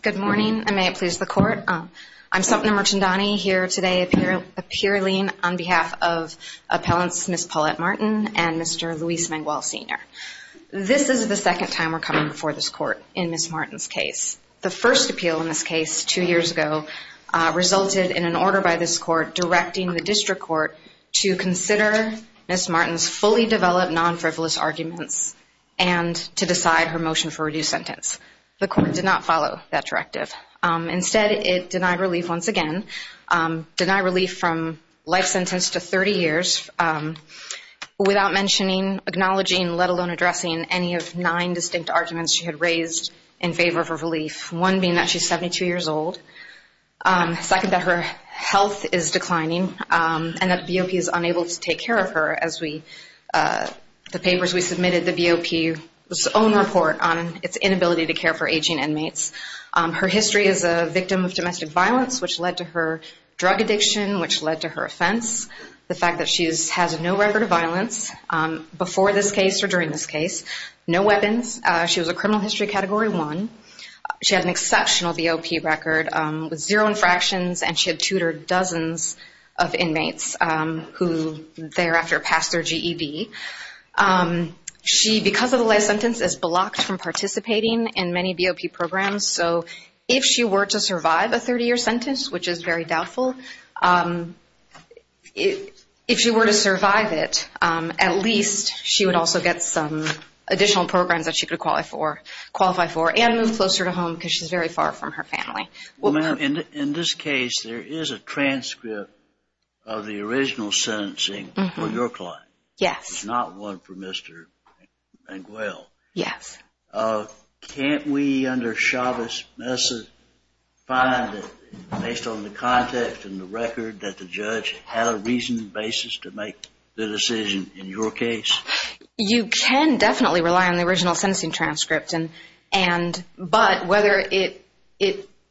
Good morning, and may it please the court. I'm Sumitna Murchandani here today appearing on behalf of appellants Miss Paulette Martin and Mr. Luis Manguel Sr. This is the second time we're coming before this court in Miss Martin's case. The first appeal in this case two years ago resulted in an order by this court directing the district court to consider Miss Martin's fully reduced sentence. The court did not follow that directive. Instead it denied relief once again, denied relief from life sentence to 30 years without mentioning, acknowledging, let alone addressing any of nine distinct arguments she had raised in favor of her relief. One being that she's 72 years old. Second, that her health is declining and that the BOP is unable to take care of her as we, the papers we submitted, the BOP's own report on its inability to care for aging inmates. Her history is a victim of domestic violence which led to her drug addiction which led to her offense. The fact that she has no record of violence before this case or during this case. No weapons. She was a criminal history category one. She had an exceptional BOP record with zero infractions and she after passed her GED. She, because of the life sentence, is blocked from participating in many BOP programs. So if she were to survive a 30-year sentence which is very doubtful, if she were to survive it at least she would also get some additional programs that she could qualify for and move closer to home because she's very far from her family. In this case there is a claim. Yes. Not one for Mr. Manguel. Yes. Can't we under Chavez Mesa find that based on the context and the record that the judge had a reasoned basis to make the decision in your case? You can definitely rely on the original sentencing transcript and but whether it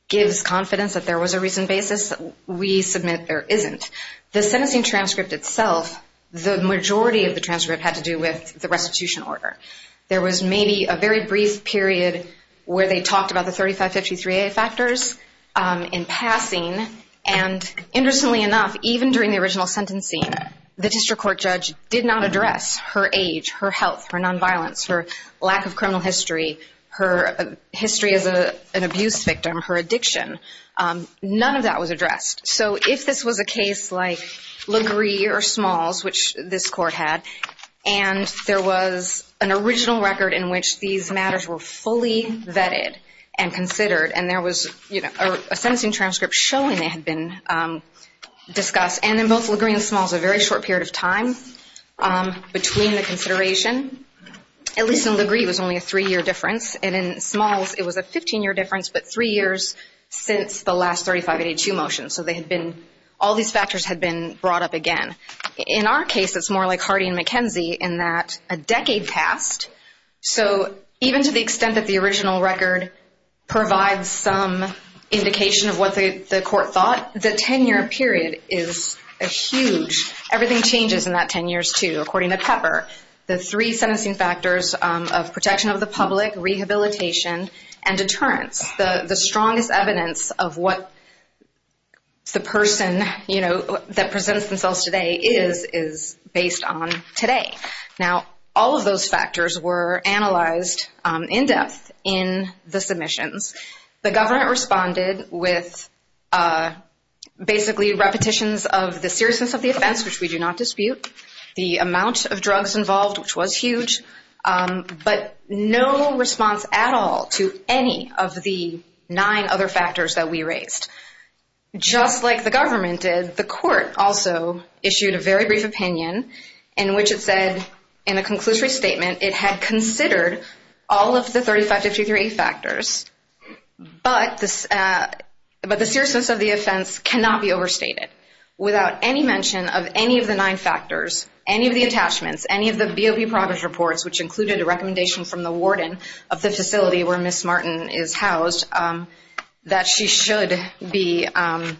gives confidence that there was a reasoned the sentencing transcript itself the majority of the transcript had to do with the restitution order. There was maybe a very brief period where they talked about the 3553a factors in passing and interestingly enough even during the original sentencing the district court judge did not address her age, her health, her non-violence, her lack of criminal history, her history as a an abuse victim, her addiction. None of that was addressed. So if this was a case like LaGree or Smalls which this court had and there was an original record in which these matters were fully vetted and considered and there was you know a sentencing transcript showing they had been discussed and in both LaGree and Smalls a very short period of time between the consideration at least in LaGree it was only a three-year difference and in Smalls it was a 15-year difference but three years since the last 3582 motion so they had been all these factors had been brought up again. In our case it's more like Hardy and McKenzie in that a decade passed so even to the extent that the original record provides some indication of what the court thought the 10-year period is a huge. Everything changes in that 10 years too according to Pepper. The three sentencing factors of protection of the public, rehabilitation and deterrence. The the strongest evidence of what the person you know that presents themselves today is is based on today. Now all of those factors were analyzed in depth in the submissions. The government responded with basically repetitions of the seriousness of the offense which we do not dispute, the amount of drugs involved which was huge but no response at all to any of the nine other factors that we raised. Just like the government did the court also issued a very brief opinion in which it said in a conclusory statement it had considered all of the 3583 factors but this but the seriousness of the offense cannot be overstated without any mention of any of the nine factors, any of the attachments, any of the BOP progress reports which Ms. Martin is housed that she should be a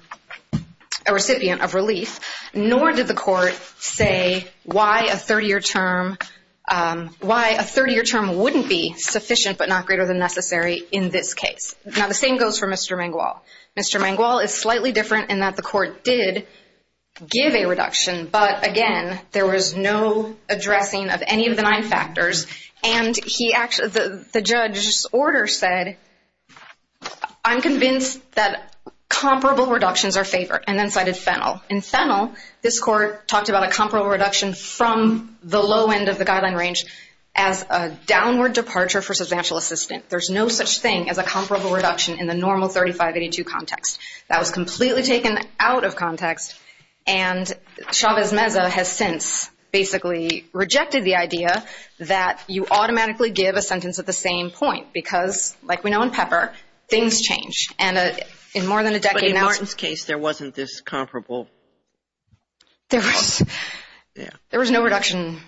recipient of relief. Nor did the court say why a 30-year term wouldn't be sufficient but not greater than necessary in this case. Now the same goes for Mr. Mangual. Mr. Mangual is slightly different in that the court did give a reduction but again there was no addressing of any of the nine factors and the judge order said I'm convinced that comparable reductions are favored and then cited Fennell. In Fennell this court talked about a comparable reduction from the low end of the guideline range as a downward departure for substantial assistant. There's no such thing as a comparable reduction in the normal 3582 context. That was completely taken out of context and Chavez Meza has since basically rejected the idea that you automatically give a sentence at the same point because like we know in Pepper things change and in more than a decade now. But in Martin's case there wasn't this comparable. There was no reduction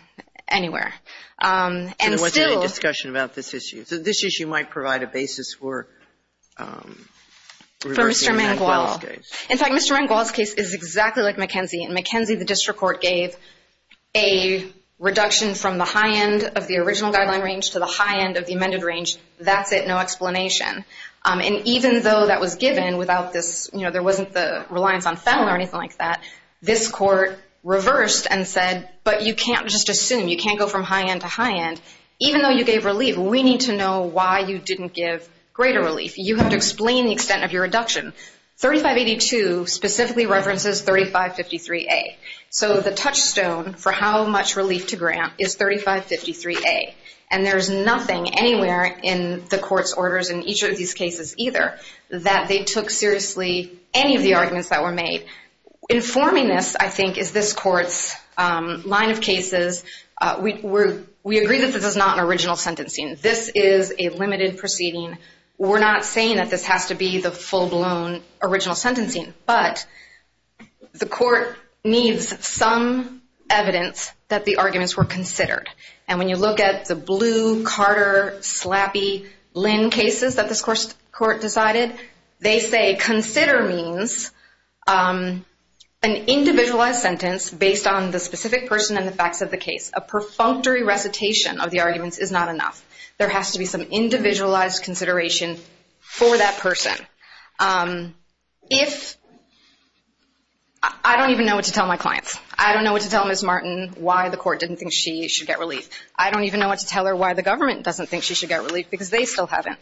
anywhere. And there wasn't any discussion about this issue. So this issue might provide a basis for Mr. Mangual. In fact Mr. Mangual's case is exactly like McKenzie and McKenzie the district court gave a reduction from the high end of the original guideline range to the high end of the amended range. That's it. No explanation. And even though that was given without this you know there wasn't the reliance on Fennell or anything like that, this court reversed and said but you can't just assume. You can't go from high end to high end. Even though you gave relief we need to know why you didn't give greater relief. You have to explain the extent of your reduction. 3582 specifically references 3553A. So the touchstone for how much relief to grant is 3553A. And there's nothing anywhere in the court's orders in each of these cases either that they took seriously any of the arguments that were made. Informing this I think is this court's line of cases. We agree that this is not an original sentencing. This is a limited proceeding. We're not saying that this has to be the full-blown original sentencing, but the court needs some evidence that the arguments were considered. And when you look at the Blue, Carter, Slappy, Lynn cases that this court decided, they say consider means an individualized sentence based on the specific person and the facts of the case. A perfunctory recitation of the arguments is not enough. There has to be some individualized consideration for that person. I don't even know what to tell my clients. I don't know what to tell Ms. Martin why the court didn't think she should get relief. I don't even know what to tell her why the government doesn't think she should get relief because they still haven't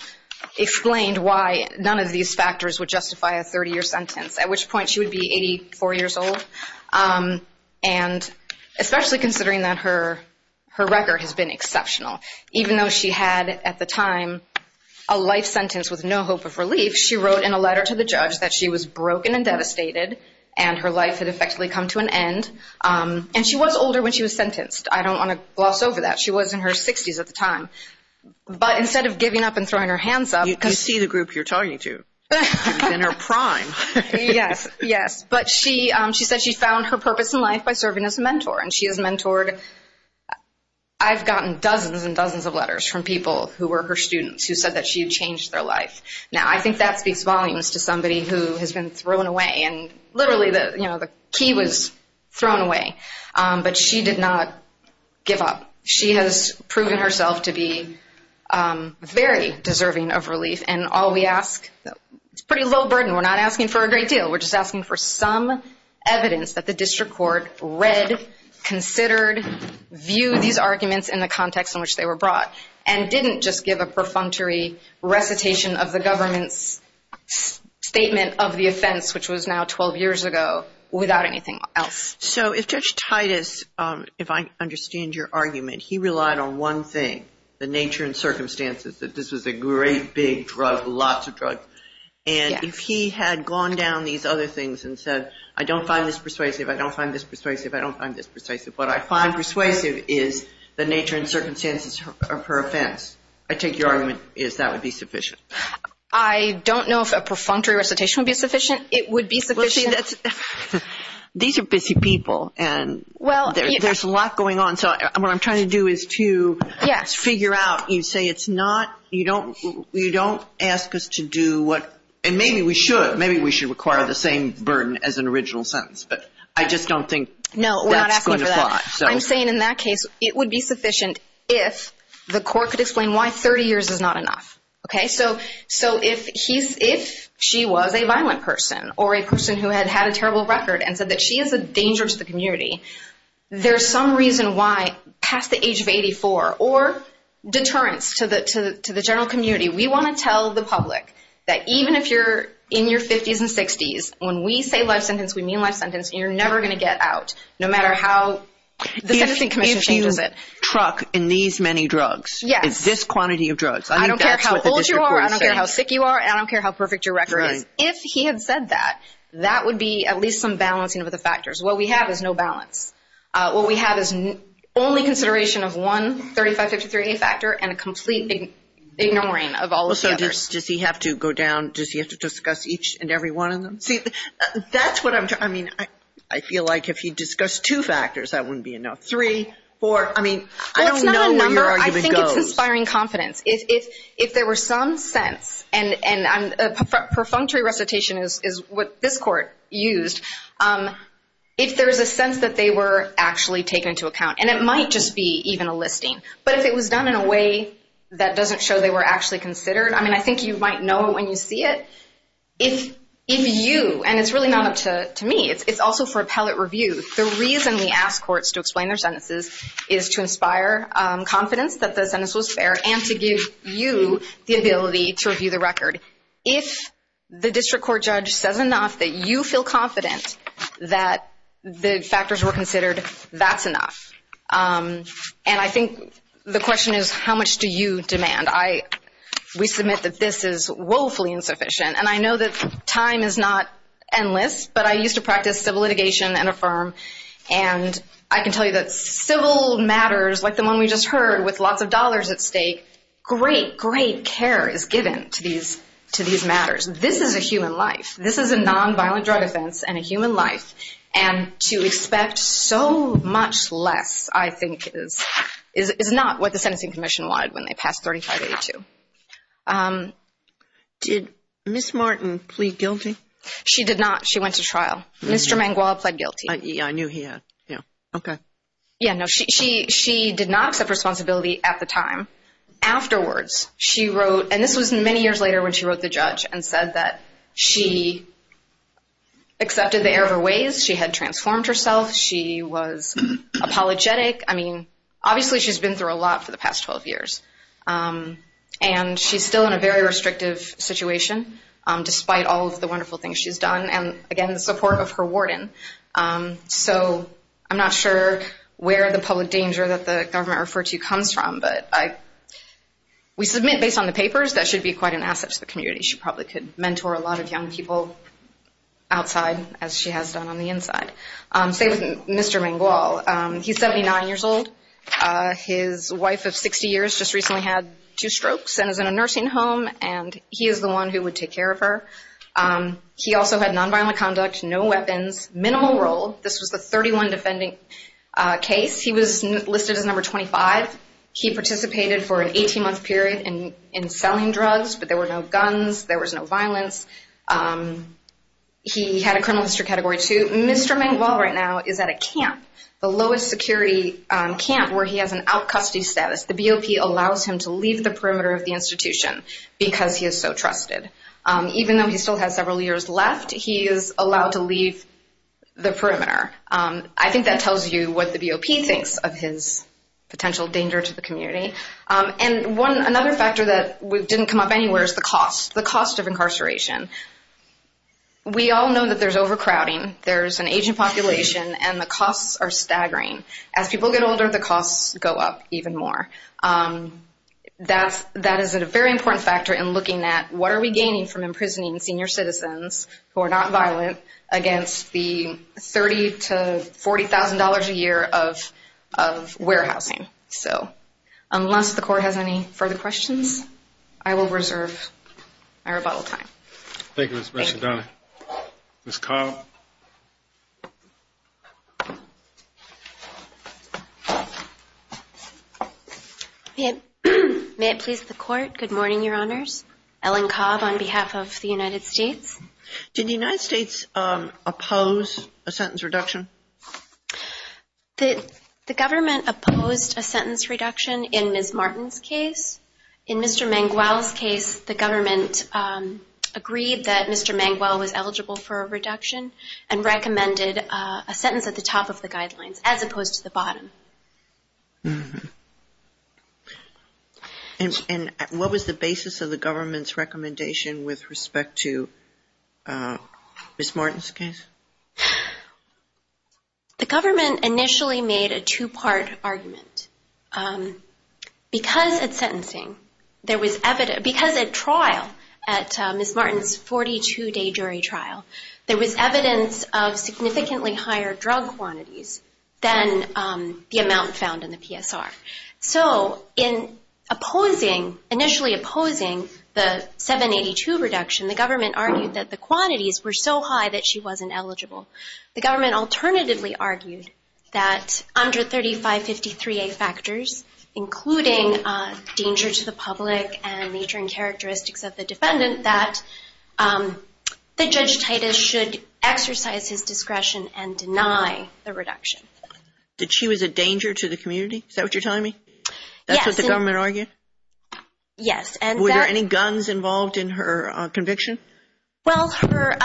explained why none of these factors would justify a 30-year sentence, at which point she would be 84 years old. And especially considering that her record has been exceptional. Even though she had at the time a life sentence with no hope of relief, she wrote in a letter to the judge that she was broken and devastated and her life had effectively come to an end. And she was older when she was sentenced. I don't want to gloss over that. She was in her 60s at the time. But instead of giving up and throwing her hands up... You can see the group you're talking to. You've been her prime. Yes, yes. But she said she found her purpose in life by serving as a mentor. And she has mentored... I've gotten dozens and dozens of letters from people who were her students who said that she had changed their life. Now I think that speaks volumes to somebody who has been thrown away. And literally the, you know, the key was thrown away. But she did not give up. She has proven herself to be very deserving of relief. And all we ask... It's pretty low burden. We're not asking for a great deal. We're just asking for some evidence that the district court read, considered, viewed these arguments in the context in which they were brought. And didn't just give a perfunctory recitation of the government's statement of the offense, which was now 12 years ago, without anything else. So if Judge Titus, if I understand your argument, he relied on one thing, the nature and circumstances that this was a great big drug, lots of drugs. And if he had gone down these other things and said, I don't find this persuasive, I don't find this persuasive, I don't find this persuasive. What I find persuasive is the nature and circumstances of her offense. I take your argument is that would be sufficient. I don't know if a perfunctory recitation would be sufficient. It would be sufficient. These are busy people. And well, there's a lot going on. So what I'm trying to do is to figure out, you say it's not, you don't, you don't ask us to do what, and maybe we should, maybe we should require the same burden as an original sentence. But I just don't think that's going to apply. No, we're not asking for that. I'm saying in that case it would be sufficient if the court could explain why 30 years is not enough. Okay, so, so if he's, if she was a violent person or a person who had had a terrible record and said that she is a danger to the community, there's some reason why past the age of 84 or deterrence to the, to the, to the general community, we want to tell the public that even if you're in your 50s and 60s, when we say life sentence, we mean life sentence, you're never going to get out no matter how the truck in these many drugs. Yes. It's this quantity of drugs. I don't care how old you are, I don't care how sick you are, I don't care how perfect your record is. If he had said that, that would be at least some balancing of the factors. What we have is no balance. What we have is only consideration of one 3553A factor and a complete ignoring of all of the others. Does he have to go down, does he have to discuss each and every one of them? See, that's what I'm, I mean, I feel like if he discussed two factors, that wouldn't be enough. Three, four, I mean, I don't know where your argument goes. Well, it's not a number, I think it's inspiring confidence. If, if, if there were some sense, and, and I'm, perfunctory recitation is, is what this court used. If there's a sense that they were actually taken into account, and it might just be even a listing, but if it was done in a way that doesn't show they were actually considered, I mean, I think you might know when you see it. If, if you, and it's really not up to, to me, it's, it's also for appellate review. The reason we ask courts to explain their sentences is to inspire confidence that the sentence was fair and to give you the ability to review the record. If the district court judge says enough that you feel confident that the factors were considered, that's enough. And I think the question is, how much do you demand? I, we submit that this is woefully insufficient. And I know that time is not endless, but I used to practice civil litigation in a firm, and I can tell you that civil matters, like the one we just heard, with lots of dollars at stake, great, great care is given to these, to these matters. This is a human life. This is a nonviolent drug offense and a human life. And to expect so much less, I think, is, is, is not what the Sentencing Commission wanted when they passed 3582. Did Ms. Martin plead guilty? She did not. She went to trial. Mr. Manguala pled guilty. I knew he had, yeah. Okay. Yeah, no, she, she, she did not accept responsibility at the time. Afterwards, she wrote, and this was many years later when she wrote the judge and said that she accepted the error of her ways. She had transformed herself. She was apologetic. I mean, obviously she's been through a lot for the past 12 years. And she's still in a very restrictive situation, despite all of the wonderful things she's done, and again, the support of her warden. So I'm not sure where the public danger that the government referred to comes from, but I, we submit based on the papers that she'd be quite an asset to the community. She probably could mentor a lot of young people outside, as she has done on the inside. Say, Mr. Manguala, he's 79 years old. His wife of 60 years just recently had two strokes and is in a nursing home, and he is the one who would take care of her. He also had nonviolent conduct, no weapons, minimal role. This was the 31 defending case. He was listed as number 25. He participated for an 18-month period in, in selling drugs, but there were no guns. There was no violence. He had a criminal history category, too. Mr. Manguala right now is at a camp, the lowest security camp, where he has an out-of-custody status. The BOP allows him to leave the perimeter of the institution because he is so trusted. Even though he still has several years left, he is allowed to leave the perimeter. I think that tells you what the BOP thinks of his potential danger to the community. Another factor that didn't come up anywhere is the cost, the cost of incarceration. We all know that there's overcrowding. There's an aging population, and the costs are staggering. As people get older, the costs go up even more. That is a very important factor in looking at what are we gaining from imprisoning senior citizens who are nonviolent against the $30,000 to $40,000 a year of warehousing. Unless the court has any further questions, I will reserve my rebuttal time. Thank you, Ms. McDonough. Thank you. Ms. Cobb. May it please the court. Good morning, Your Honors. Ellen Cobb on behalf of the United States. Did the United States oppose a sentence reduction? The government opposed a sentence reduction in Ms. Martin's case. In Mr. Manguel's case, the government agreed that Mr. Manguel was eligible for a reduction and recommended a sentence at the top of the guidelines as opposed to the bottom. And what was the basis of the government's recommendation with respect to Ms. Martin's case? The government initially made a two-part argument. Because at trial at Ms. Martin's 42-day jury trial, there was evidence of significantly higher drug quantities than the amount found in the PSR. So, in opposing, initially opposing the 782 reduction, the government argued that the quantities were so high that she wasn't eligible. The government alternatively argued that under 3553A factors, including danger to the public and nature and characteristics of the defendant, that Judge Titus should exercise his discretion and deny the reduction. Did she was a danger to the community? Is that what you're telling me? Yes. That's what the government argued? Yes. Were there any guns involved in her conviction? Well, her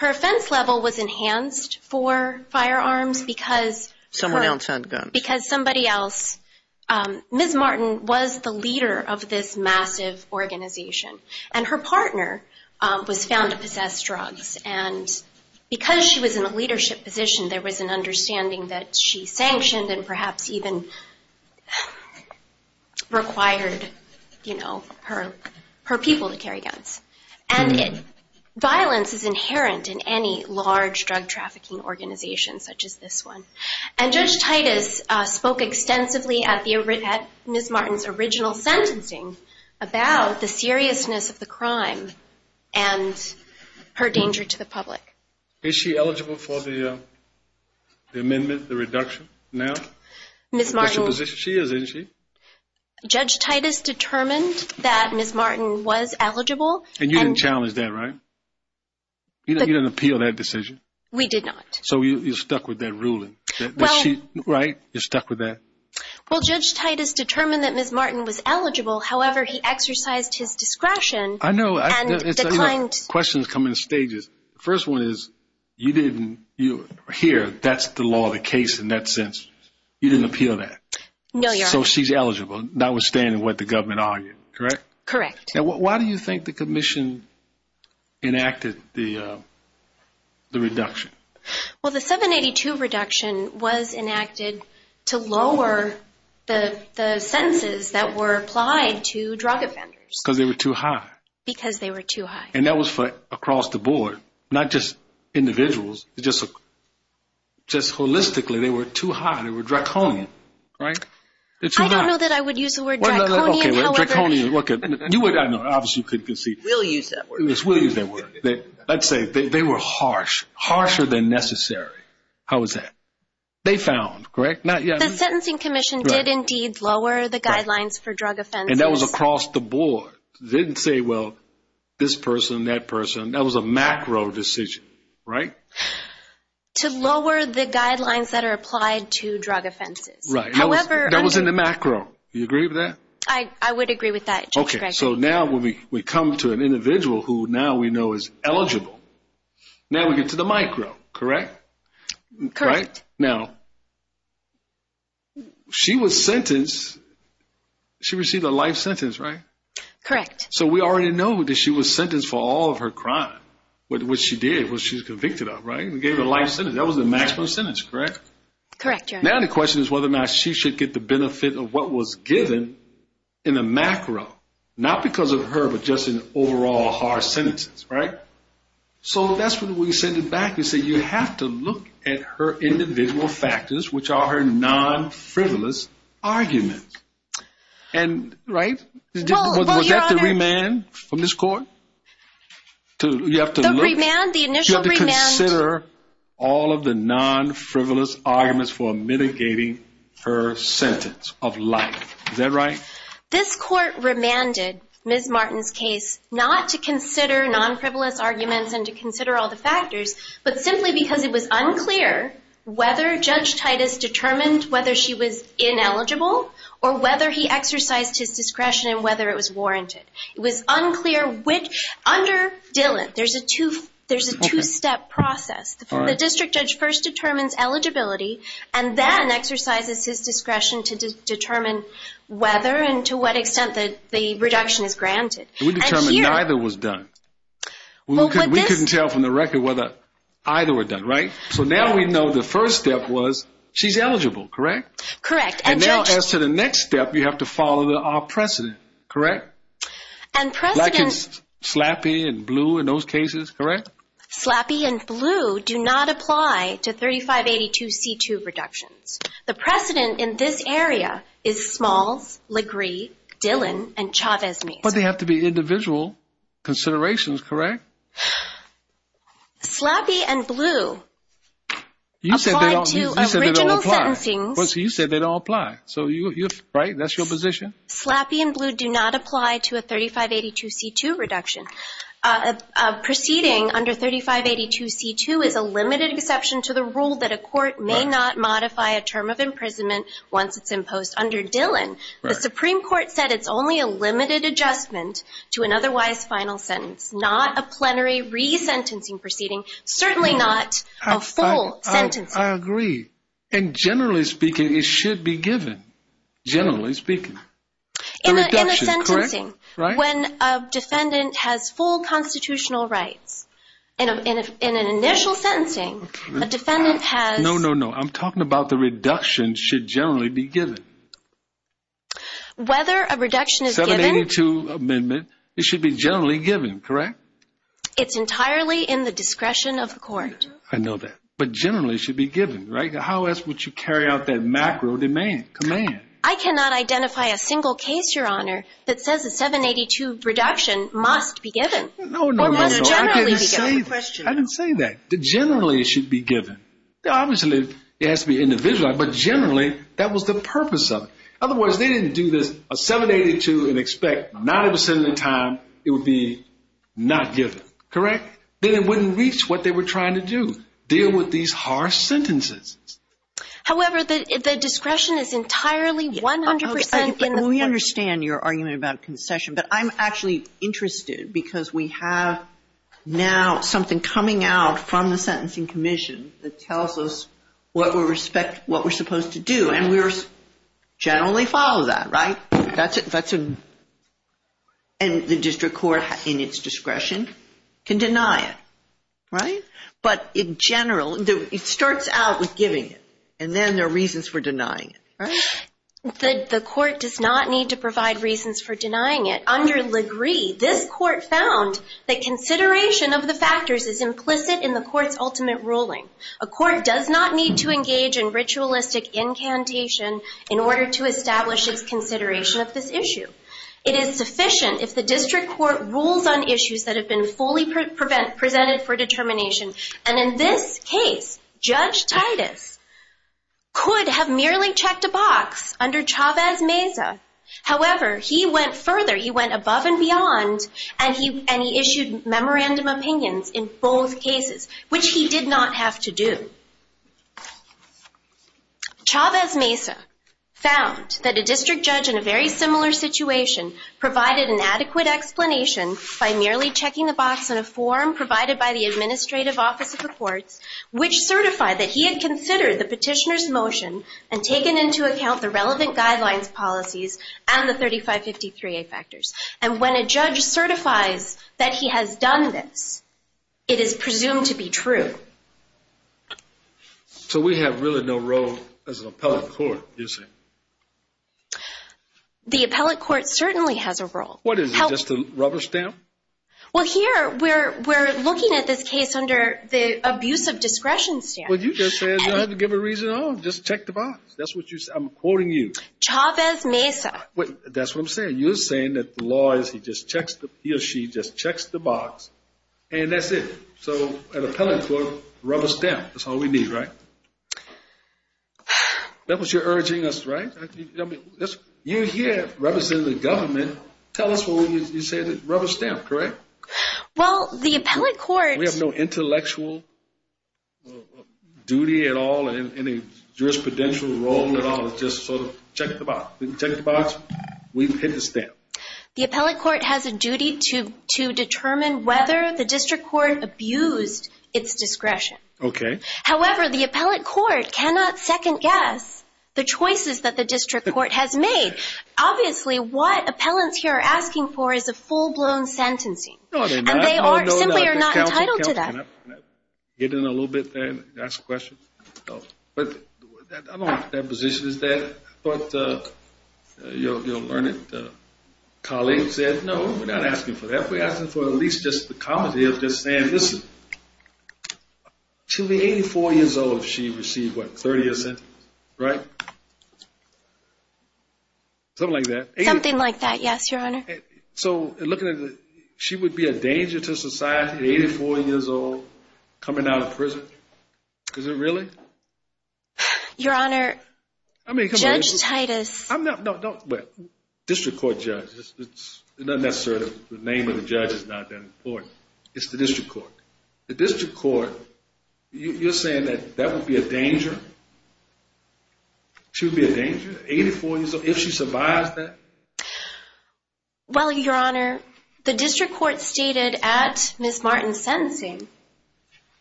offense level was enhanced for firearms because… Someone else had guns. Ms. Martin was the leader of this massive organization, and her partner was found to possess drugs. And because she was in a leadership position, there was an understanding that she sanctioned and perhaps even required her people to carry guns. And violence is inherent in any large drug trafficking organization such as this one. And Judge Titus spoke extensively at Ms. Martin's original sentencing about the seriousness of the crime and her danger to the public. Is she eligible for the amendment, the reduction now? Ms. Martin… She is, isn't she? Judge Titus determined that Ms. Martin was eligible. And you didn't challenge that, right? You didn't appeal that decision? We did not. So you're stuck with that ruling? Well… Right? You're stuck with that? Well, Judge Titus determined that Ms. Martin was eligible. However, he exercised his discretion… I know. …and declined… Questions come in stages. The first one is, you didn't…here, that's the law of the case in that sense. You didn't appeal that? No, Your Honor. So she's eligible, notwithstanding what the government argued, correct? Correct. Now, why do you think the commission enacted the reduction? Well, the 782 reduction was enacted to lower the sentences that were applied to drug offenders. Because they were too high. Because they were too high. And that was for across the board, not just individuals. Just holistically, they were too high. They were draconian, right? I don't know that I would use the word draconian, however… Okay, draconian. You would, I know, obviously you couldn't concede. We'll use that word. Yes, we'll use that word. Let's say they were harsh, harsher than necessary. How is that? They found, correct? The Sentencing Commission did indeed lower the guidelines for drug offenses. And that was across the board. They didn't say, well, this person, that person. That was a macro decision, right? To lower the guidelines that are applied to drug offenses. Right. However… That was in the macro. Do you agree with that? I would agree with that, Judge Gregory. Okay, so now we come to an individual who now we know is eligible. Now we get to the micro, correct? Correct. Now, she was sentenced. She received a life sentence, right? Correct. So we already know that she was sentenced for all of her crime. What she did, what she was convicted of, right? We gave her a life sentence. That was the maximum sentence, correct? Correct, Your Honor. Now the question is whether or not she should get the benefit of what was given in the macro. Not because of her, but just in overall harsh sentences, right? So that's when we send it back and say you have to look at her individual factors, which are her non-frivolous arguments. And, right? Well, Your Honor… Was that the remand from this court? The remand? The initial remand? To consider all of the non-frivolous arguments for mitigating her sentence of life. Is that right? This court remanded Ms. Martin's case not to consider non-frivolous arguments and to consider all the factors, but simply because it was unclear whether Judge Titus determined whether she was ineligible or whether he exercised his discretion and whether it was warranted. It was unclear which… Under Dillon, there's a two-step process. The district judge first determines eligibility and then exercises his discretion to determine whether and to what extent the reduction is granted. We determined neither was done. We couldn't tell from the record whether either were done, right? So now we know the first step was she's eligible, correct? Correct. And now as to the next step, you have to follow our precedent, correct? Correct. And precedent… Black and Slappy and Blue in those cases, correct? Slappy and Blue do not apply to 3582C2 reductions. The precedent in this area is Smalls, Legree, Dillon, and Chavez-Mesa. But they have to be individual considerations, correct? Slappy and Blue… You said they don't apply. …apply to original sentencing. You said they don't apply. So you're, right? That's your position? Slappy and Blue do not apply to a 3582C2 reduction. A proceeding under 3582C2 is a limited exception to the rule that a court may not modify a term of imprisonment once it's imposed under Dillon. The Supreme Court said it's only a limited adjustment to an otherwise final sentence, not a plenary resentencing proceeding, certainly not a full sentencing. I agree. And generally speaking, it should be given. Generally speaking. In a sentencing, when a defendant has full constitutional rights. In an initial sentencing, a defendant has… No, no, no. I'm talking about the reduction should generally be given. Whether a reduction is given… 782 amendment, it should be generally given, correct? It's entirely in the discretion of the court. I know that. But generally, it should be given, right? How else would you carry out that macro demand, command? I cannot identify a single case, Your Honor, that says a 782 reduction must be given. No, no, no. I didn't say that. I didn't say that. Generally, it should be given. Obviously, it has to be individualized, but generally, that was the purpose of it. Otherwise, they didn't do this 782 and expect 90% of the time it would be not given, correct? Then it wouldn't reach what they were trying to do, deal with these harsh sentences. However, the discretion is entirely 100% in the… We understand your argument about concession, but I'm actually interested because we have now something coming out from the Sentencing Commission that tells us what we're supposed to do, and we generally follow that, right? That's a… And the district court, in its discretion, can deny it, right? But in general, it starts out with giving it, and then there are reasons for denying it, right? The court does not need to provide reasons for denying it. Under Legree, this court found that consideration of the factors is implicit in the court's ultimate ruling. A court does not need to engage in ritualistic incantation in order to establish its consideration of this issue. It is sufficient if the district court rules on issues that have been fully presented for determination, and in this case, Judge Titus could have merely checked a box under Chavez-Meza. However, he went further. He went above and beyond, and he issued memorandum opinions in both cases, which he did not have to do. Chavez-Meza found that a district judge in a very similar situation provided an adequate explanation by merely checking the box in a form provided by the administrative office of the courts, which certified that he had considered the petitioner's motion and taken into account the relevant guidelines, policies, and the 3553A factors. And when a judge certifies that he has done this, it is presumed to be true. So we have really no role as an appellate court, you say? The appellate court certainly has a role. What is it, just a rubber stamp? Well, here, we're looking at this case under the abuse of discretion stamp. Well, you just said you don't have to give a reason at all. Just check the box. That's what you said. Chavez-Meza. That's what I'm saying. You're saying that the law is he or she just checks the box, and that's it. So an appellate court, rubber stamp. That's all we need, right? That was your urging us, right? You're here representing the government. Tell us what you said, rubber stamp, correct? Well, the appellate court— We have no intellectual duty at all in a jurisprudential role at all. It's just sort of check the box. We can check the box. We can hit the stamp. The appellate court has a duty to determine whether the district court abused its discretion. Okay. However, the appellate court cannot second-guess the choices that the district court has made. Obviously, what appellants here are asking for is a full-blown sentencing, and they simply are not entitled to that. Can I get in a little bit there and ask a question? I don't know if that position is there, but you'll learn it. Colleagues said, no, we're not asking for that. We're asking for at least just the comedy of just saying, listen, she'll be 84 years old if she received, what, 30 years' sentence, right? Something like that. Something like that, yes, Your Honor. So looking at it, she would be a danger to society at 84 years old coming out of prison? Is it really? Your Honor, Judge Titus. District court judge, it's not necessarily the name of the judge is not that important. It's the district court. The district court, you're saying that that would be a danger? She would be a danger, 84 years old, if she survives that? Well, Your Honor, the district court stated at Ms. Martin's sentencing,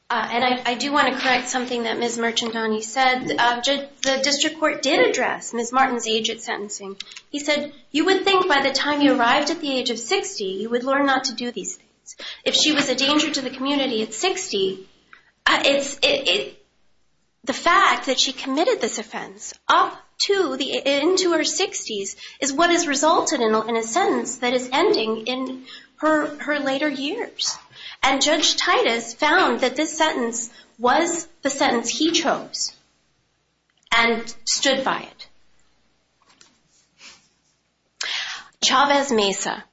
and I do want to correct something that Ms. Merchandani said. The district court did address Ms. Martin's age at sentencing. He said, you would think by the time you arrived at the age of 60, you would learn not to do these things. If she was a danger to the community at 60, the fact that she committed this offense up into her 60s is what has resulted in a sentence that is ending in her later years. And Judge Titus found that this sentence was the sentence he chose and stood by it. Chavez Mesa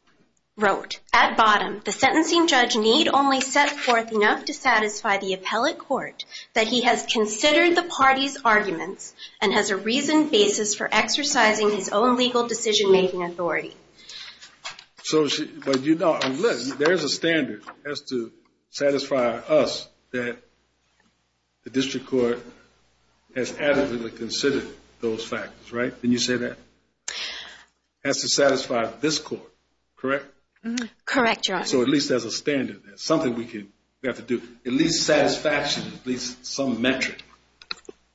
wrote, at bottom, the sentencing judge need only set forth enough to satisfy the appellate court that he has considered the party's arguments and has a reasoned basis for exercising his own legal decision-making authority. But you know, look, there's a standard that has to satisfy us that the district court has adequately considered those factors, right? Can you say that? Has to satisfy this court, correct? Correct, Your Honor. So at least there's a standard there, something we have to do. At least satisfaction, at least some metric,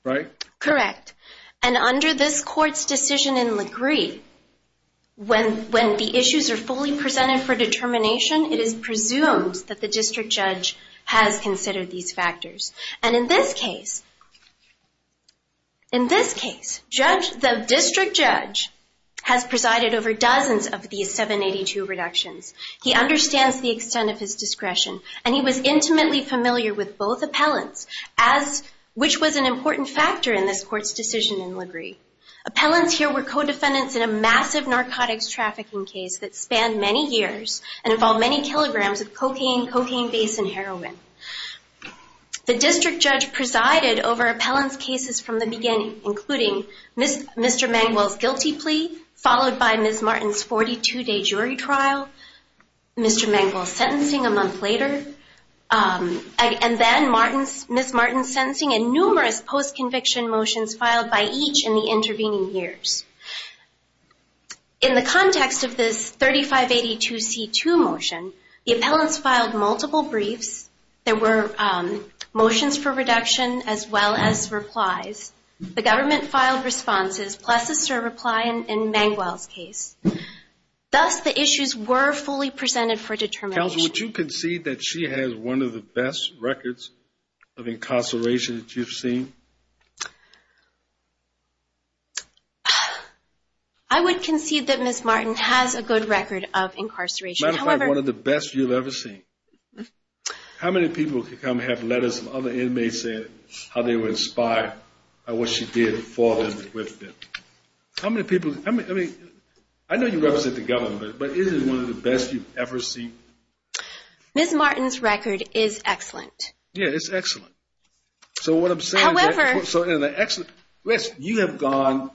right? Correct. And under this court's decision in LaGree, when the issues are fully presented for determination, it is presumed that the district judge has considered these factors. And in this case, the district judge has presided over dozens of these 782 reductions. He understands the extent of his discretion, and he was intimately familiar with both appellants, which was an important factor in this court's decision in LaGree. Appellants here were co-defendants in a massive narcotics trafficking case that spanned many years and involved many kilograms of cocaine, cocaine base, and heroin. The district judge presided over appellants' cases from the beginning, including Mr. Mangwell's guilty plea, followed by Ms. Martin's 42-day jury trial, Mr. Mangwell's sentencing a month later, and then Ms. Martin's sentencing and numerous post-conviction motions filed by each in the intervening years. In the context of this 3582C2 motion, the appellants filed multiple briefs. There were motions for reduction as well as replies. The government filed responses, plus a SIR reply in Mangwell's case. Thus, the issues were fully presented for determination. Counsel, would you concede that she has one of the best records of incarceration that you've seen? I would concede that Ms. Martin has a good record of incarceration. Matter of fact, one of the best you've ever seen. How many people could come have letters from other inmates saying how they were inspired by what she did for them and with them? How many people? I know you represent the government, but is it one of the best you've ever seen? Ms. Martin's record is excellent. Yeah, it's excellent. So what I'm saying is that you have gone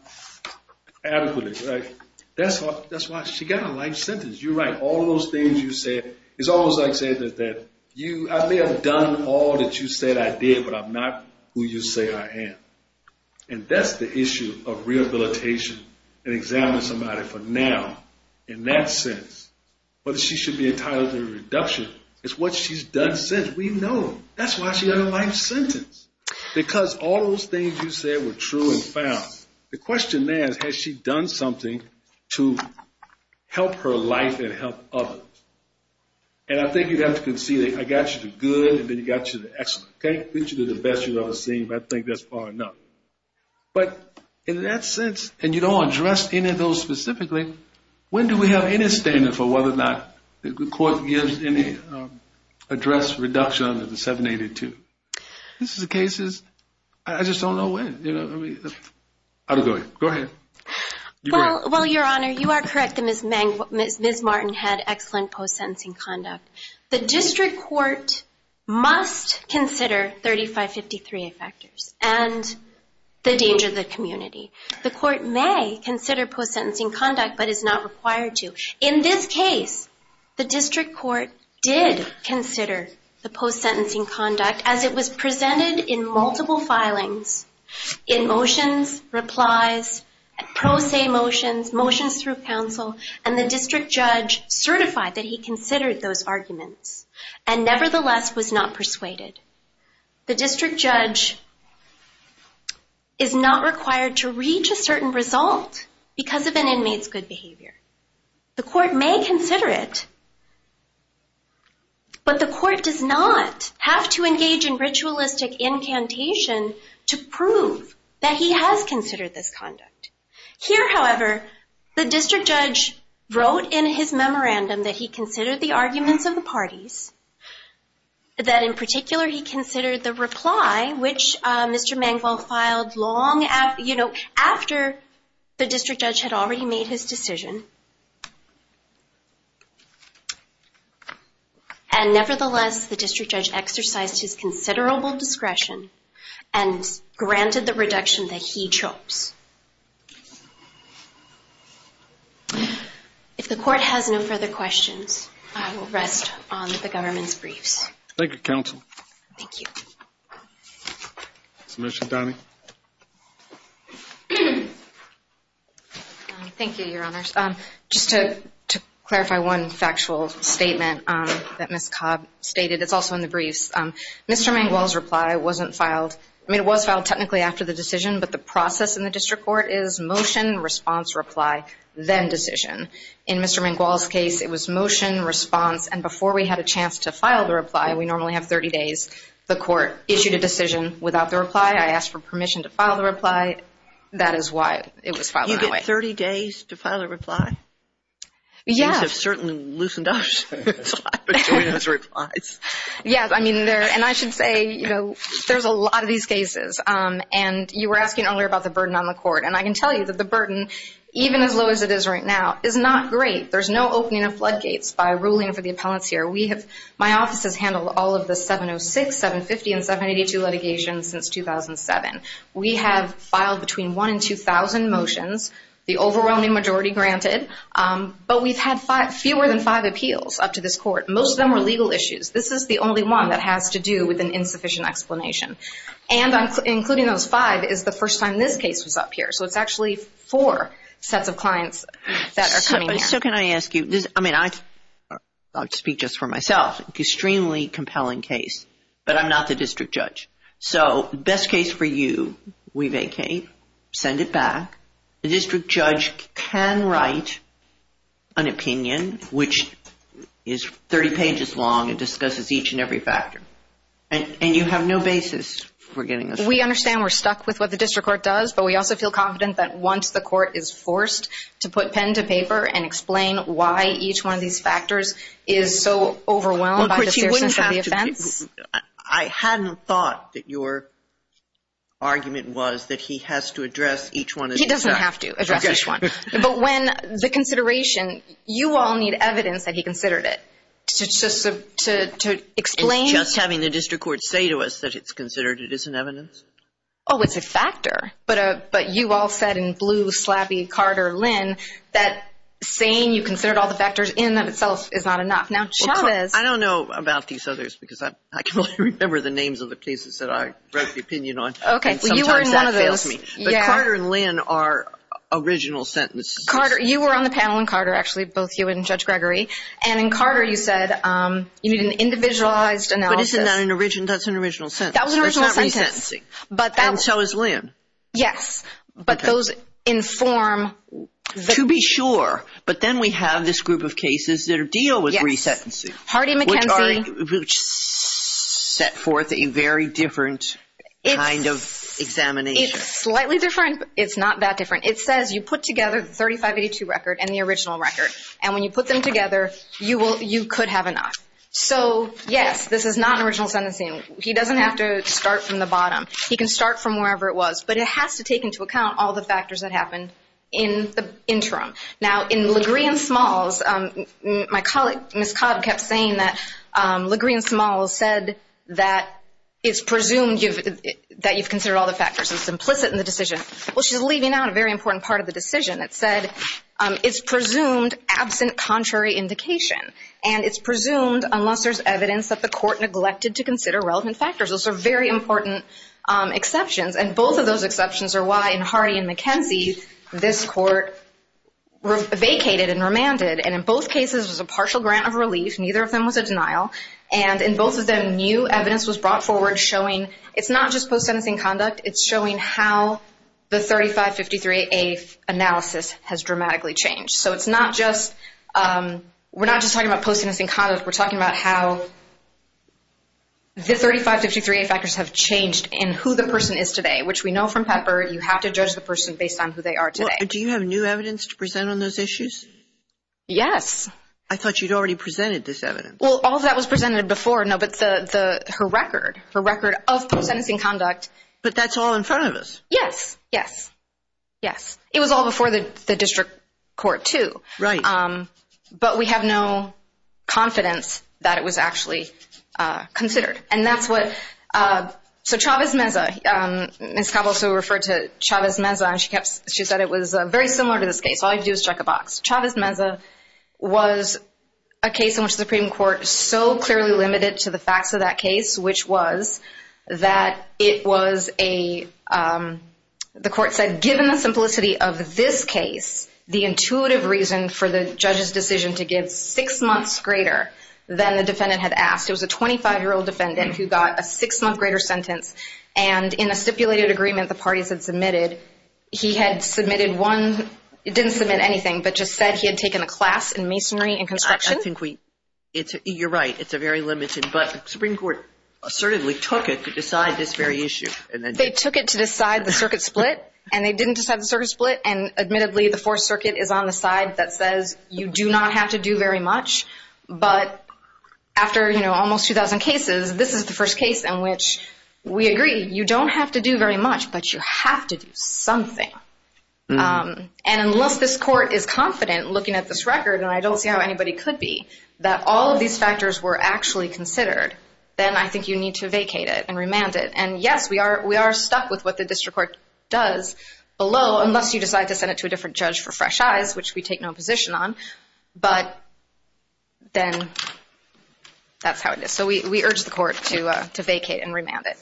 adequately, right? That's why she got a life sentence. You're right. All those things you said, it's almost like saying that I may have done all that you said I did, but I'm not who you say I am. And that's the issue of rehabilitation and examining somebody for now. In that sense, whether she should be entitled to a reduction is what she's done since. We know. That's why she got a life sentence. Because all those things you said were true and found. The question is, has she done something to help her life and help others? And I think you'd have to concede that I got you the good and then got you the excellent. I can't get you the best you've ever seen, but I think that's far enough. But in that sense, and you don't address any of those specifically, when do we have any standard for whether or not the court gives any address reduction under the 782? This is a case that I just don't know when. I don't know. Go ahead. Well, Your Honor, you are correct that Ms. Martin had excellent post-sentencing conduct. The district court must consider 3553 effectors and the danger to the community. The court may consider post-sentencing conduct but is not required to. In this case, the district court did consider the post-sentencing conduct as it was presented in multiple filings in motions, replies, pro se motions, motions through counsel, and the district judge certified that he considered those arguments and nevertheless was not persuaded. The district judge is not required to reach a certain result because of an inmate's good behavior. The court may consider it, but the court does not have to engage in ritualistic incantation to prove that he has considered this conduct. Here, however, the district judge wrote in his memorandum that he considered the arguments of the parties, that in particular he considered the reply, which Mr. Mangwell filed long after the district judge had already made his decision, and nevertheless the district judge exercised his considerable discretion and granted the reduction that he chose. If the court has no further questions, I will rest on the government's briefs. Thank you, counsel. Thank you. Submission, Donnie? Thank you, Your Honors. Just to clarify one factual statement that Ms. Cobb stated, it's also in the briefs. Mr. Mangwell's reply wasn't filed. I mean, it was filed technically after the decision, but the process in the district court is motion, response, reply, then decision. In Mr. Mangwell's case, it was motion, response, and before we had a chance to file the reply, we normally have 30 days. The court issued a decision without the reply. I asked for permission to file the reply. That is why it was filed that way. You get 30 days to file a reply? Yes. The judges have certainly loosened up. Yes, I mean, and I should say, you know, there's a lot of these cases, and you were asking earlier about the burden on the court, and I can tell you that the burden, even as low as it is right now, is not great. There's no opening of floodgates by ruling for the appellants here. My office has handled all of the 706, 750, and 782 litigations since 2007. We have filed between 1,000 and 2,000 motions, the overwhelming majority granted, but we've had fewer than five appeals up to this court. Most of them are legal issues. This is the only one that has to do with an insufficient explanation, and including those five is the first time this case was up here. So it's actually four sets of clients that are coming here. So can I ask you, I mean, I'll speak just for myself, extremely compelling case, but I'm not the district judge. So best case for you, we vacate, send it back. The district judge can write an opinion which is 30 pages long and discusses each and every factor, and you have no basis for getting this right. We understand we're stuck with what the district court does, but we also feel confident that once the court is forced to put pen to paper and explain why each one of these factors is so overwhelmed by the seriousness of the offense. I hadn't thought that your argument was that he has to address each one. He doesn't have to address each one. But when the consideration, you all need evidence that he considered it to explain. Just having the district court say to us that it's considered it isn't evidence? Oh, it's a factor. But you all said in blue, slappy, Carter, Lynn, that saying you considered all the factors in and of itself is not enough. I don't know about these others because I can only remember the names of the cases that I wrote the opinion on, and sometimes that fails me. But Carter and Lynn are original sentences. You were on the panel in Carter, actually, both you and Judge Gregory, and in Carter you said you need an individualized analysis. But isn't that an original sentence? That was an original sentence. That's not resentencing. And so is Lynn. Yes, but those inform. To be sure. But then we have this group of cases that deal with resentencing. Hardy-McKenzie. Which set forth a very different kind of examination. It's slightly different. It's not that different. It says you put together the 3582 record and the original record, and when you put them together, you could have a knock. So, yes, this is not an original sentencing. He doesn't have to start from the bottom. He can start from wherever it was. But it has to take into account all the factors that happened in the interim. Now, in LaGrean-Smalls, my colleague, Ms. Cobb, kept saying that LaGrean-Smalls said that it's presumed that you've considered all the factors. It's implicit in the decision. Well, she's leaving out a very important part of the decision. It said it's presumed absent contrary indication, and it's presumed unless there's evidence that the court neglected to consider relevant factors. Those are very important exceptions. And both of those exceptions are why, in Hardy and McKenzie, this court vacated and remanded. And in both cases, it was a partial grant of relief. Neither of them was a denial. And in both of them, new evidence was brought forward showing it's not just post-sentencing conduct. It's showing how the 3553A analysis has dramatically changed. So it's not just we're not just talking about post-sentencing conduct. We're talking about how the 3553A factors have changed in who the person is today, which we know from Pepper you have to judge the person based on who they are today. Do you have new evidence to present on those issues? Yes. I thought you'd already presented this evidence. Well, all of that was presented before, no, but her record, her record of post-sentencing conduct. But that's all in front of us. Yes, yes, yes. It was all before the district court too. Right. But we have no confidence that it was actually considered. And that's what so Chavez Meza, Ms. Cabo also referred to Chavez Meza, and she said it was very similar to this case. All you have to do is check a box. Chavez Meza was a case in which the Supreme Court so clearly limited to the facts of that case, which was that it was a, the court said, given the simplicity of this case, the intuitive reason for the judge's decision to give six months greater than the defendant had asked. It was a 25-year-old defendant who got a six-month greater sentence, and in a stipulated agreement the parties had submitted, he had submitted one, it didn't submit anything, but just said he had taken a class in masonry and construction. I think we, you're right, it's a very limited, but the Supreme Court assertively took it to decide this very issue. They took it to decide the circuit split, and they didn't decide the circuit split, and admittedly the Fourth Circuit is on the side that says you do not have to do very much, but after, you know, almost 2,000 cases, this is the first case in which we agree, you don't have to do very much, but you have to do something. And unless this court is confident, looking at this record, and I don't see how anybody could be, that all of these factors were actually considered, then I think you need to vacate it and remand it. And yes, we are stuck with what the district court does below, unless you decide to send it to a different judge for fresh eyes, which we take no position on, but then that's how it is. So we urge the court to vacate and remand it.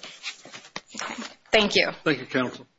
Thank you. Thank you, counsel.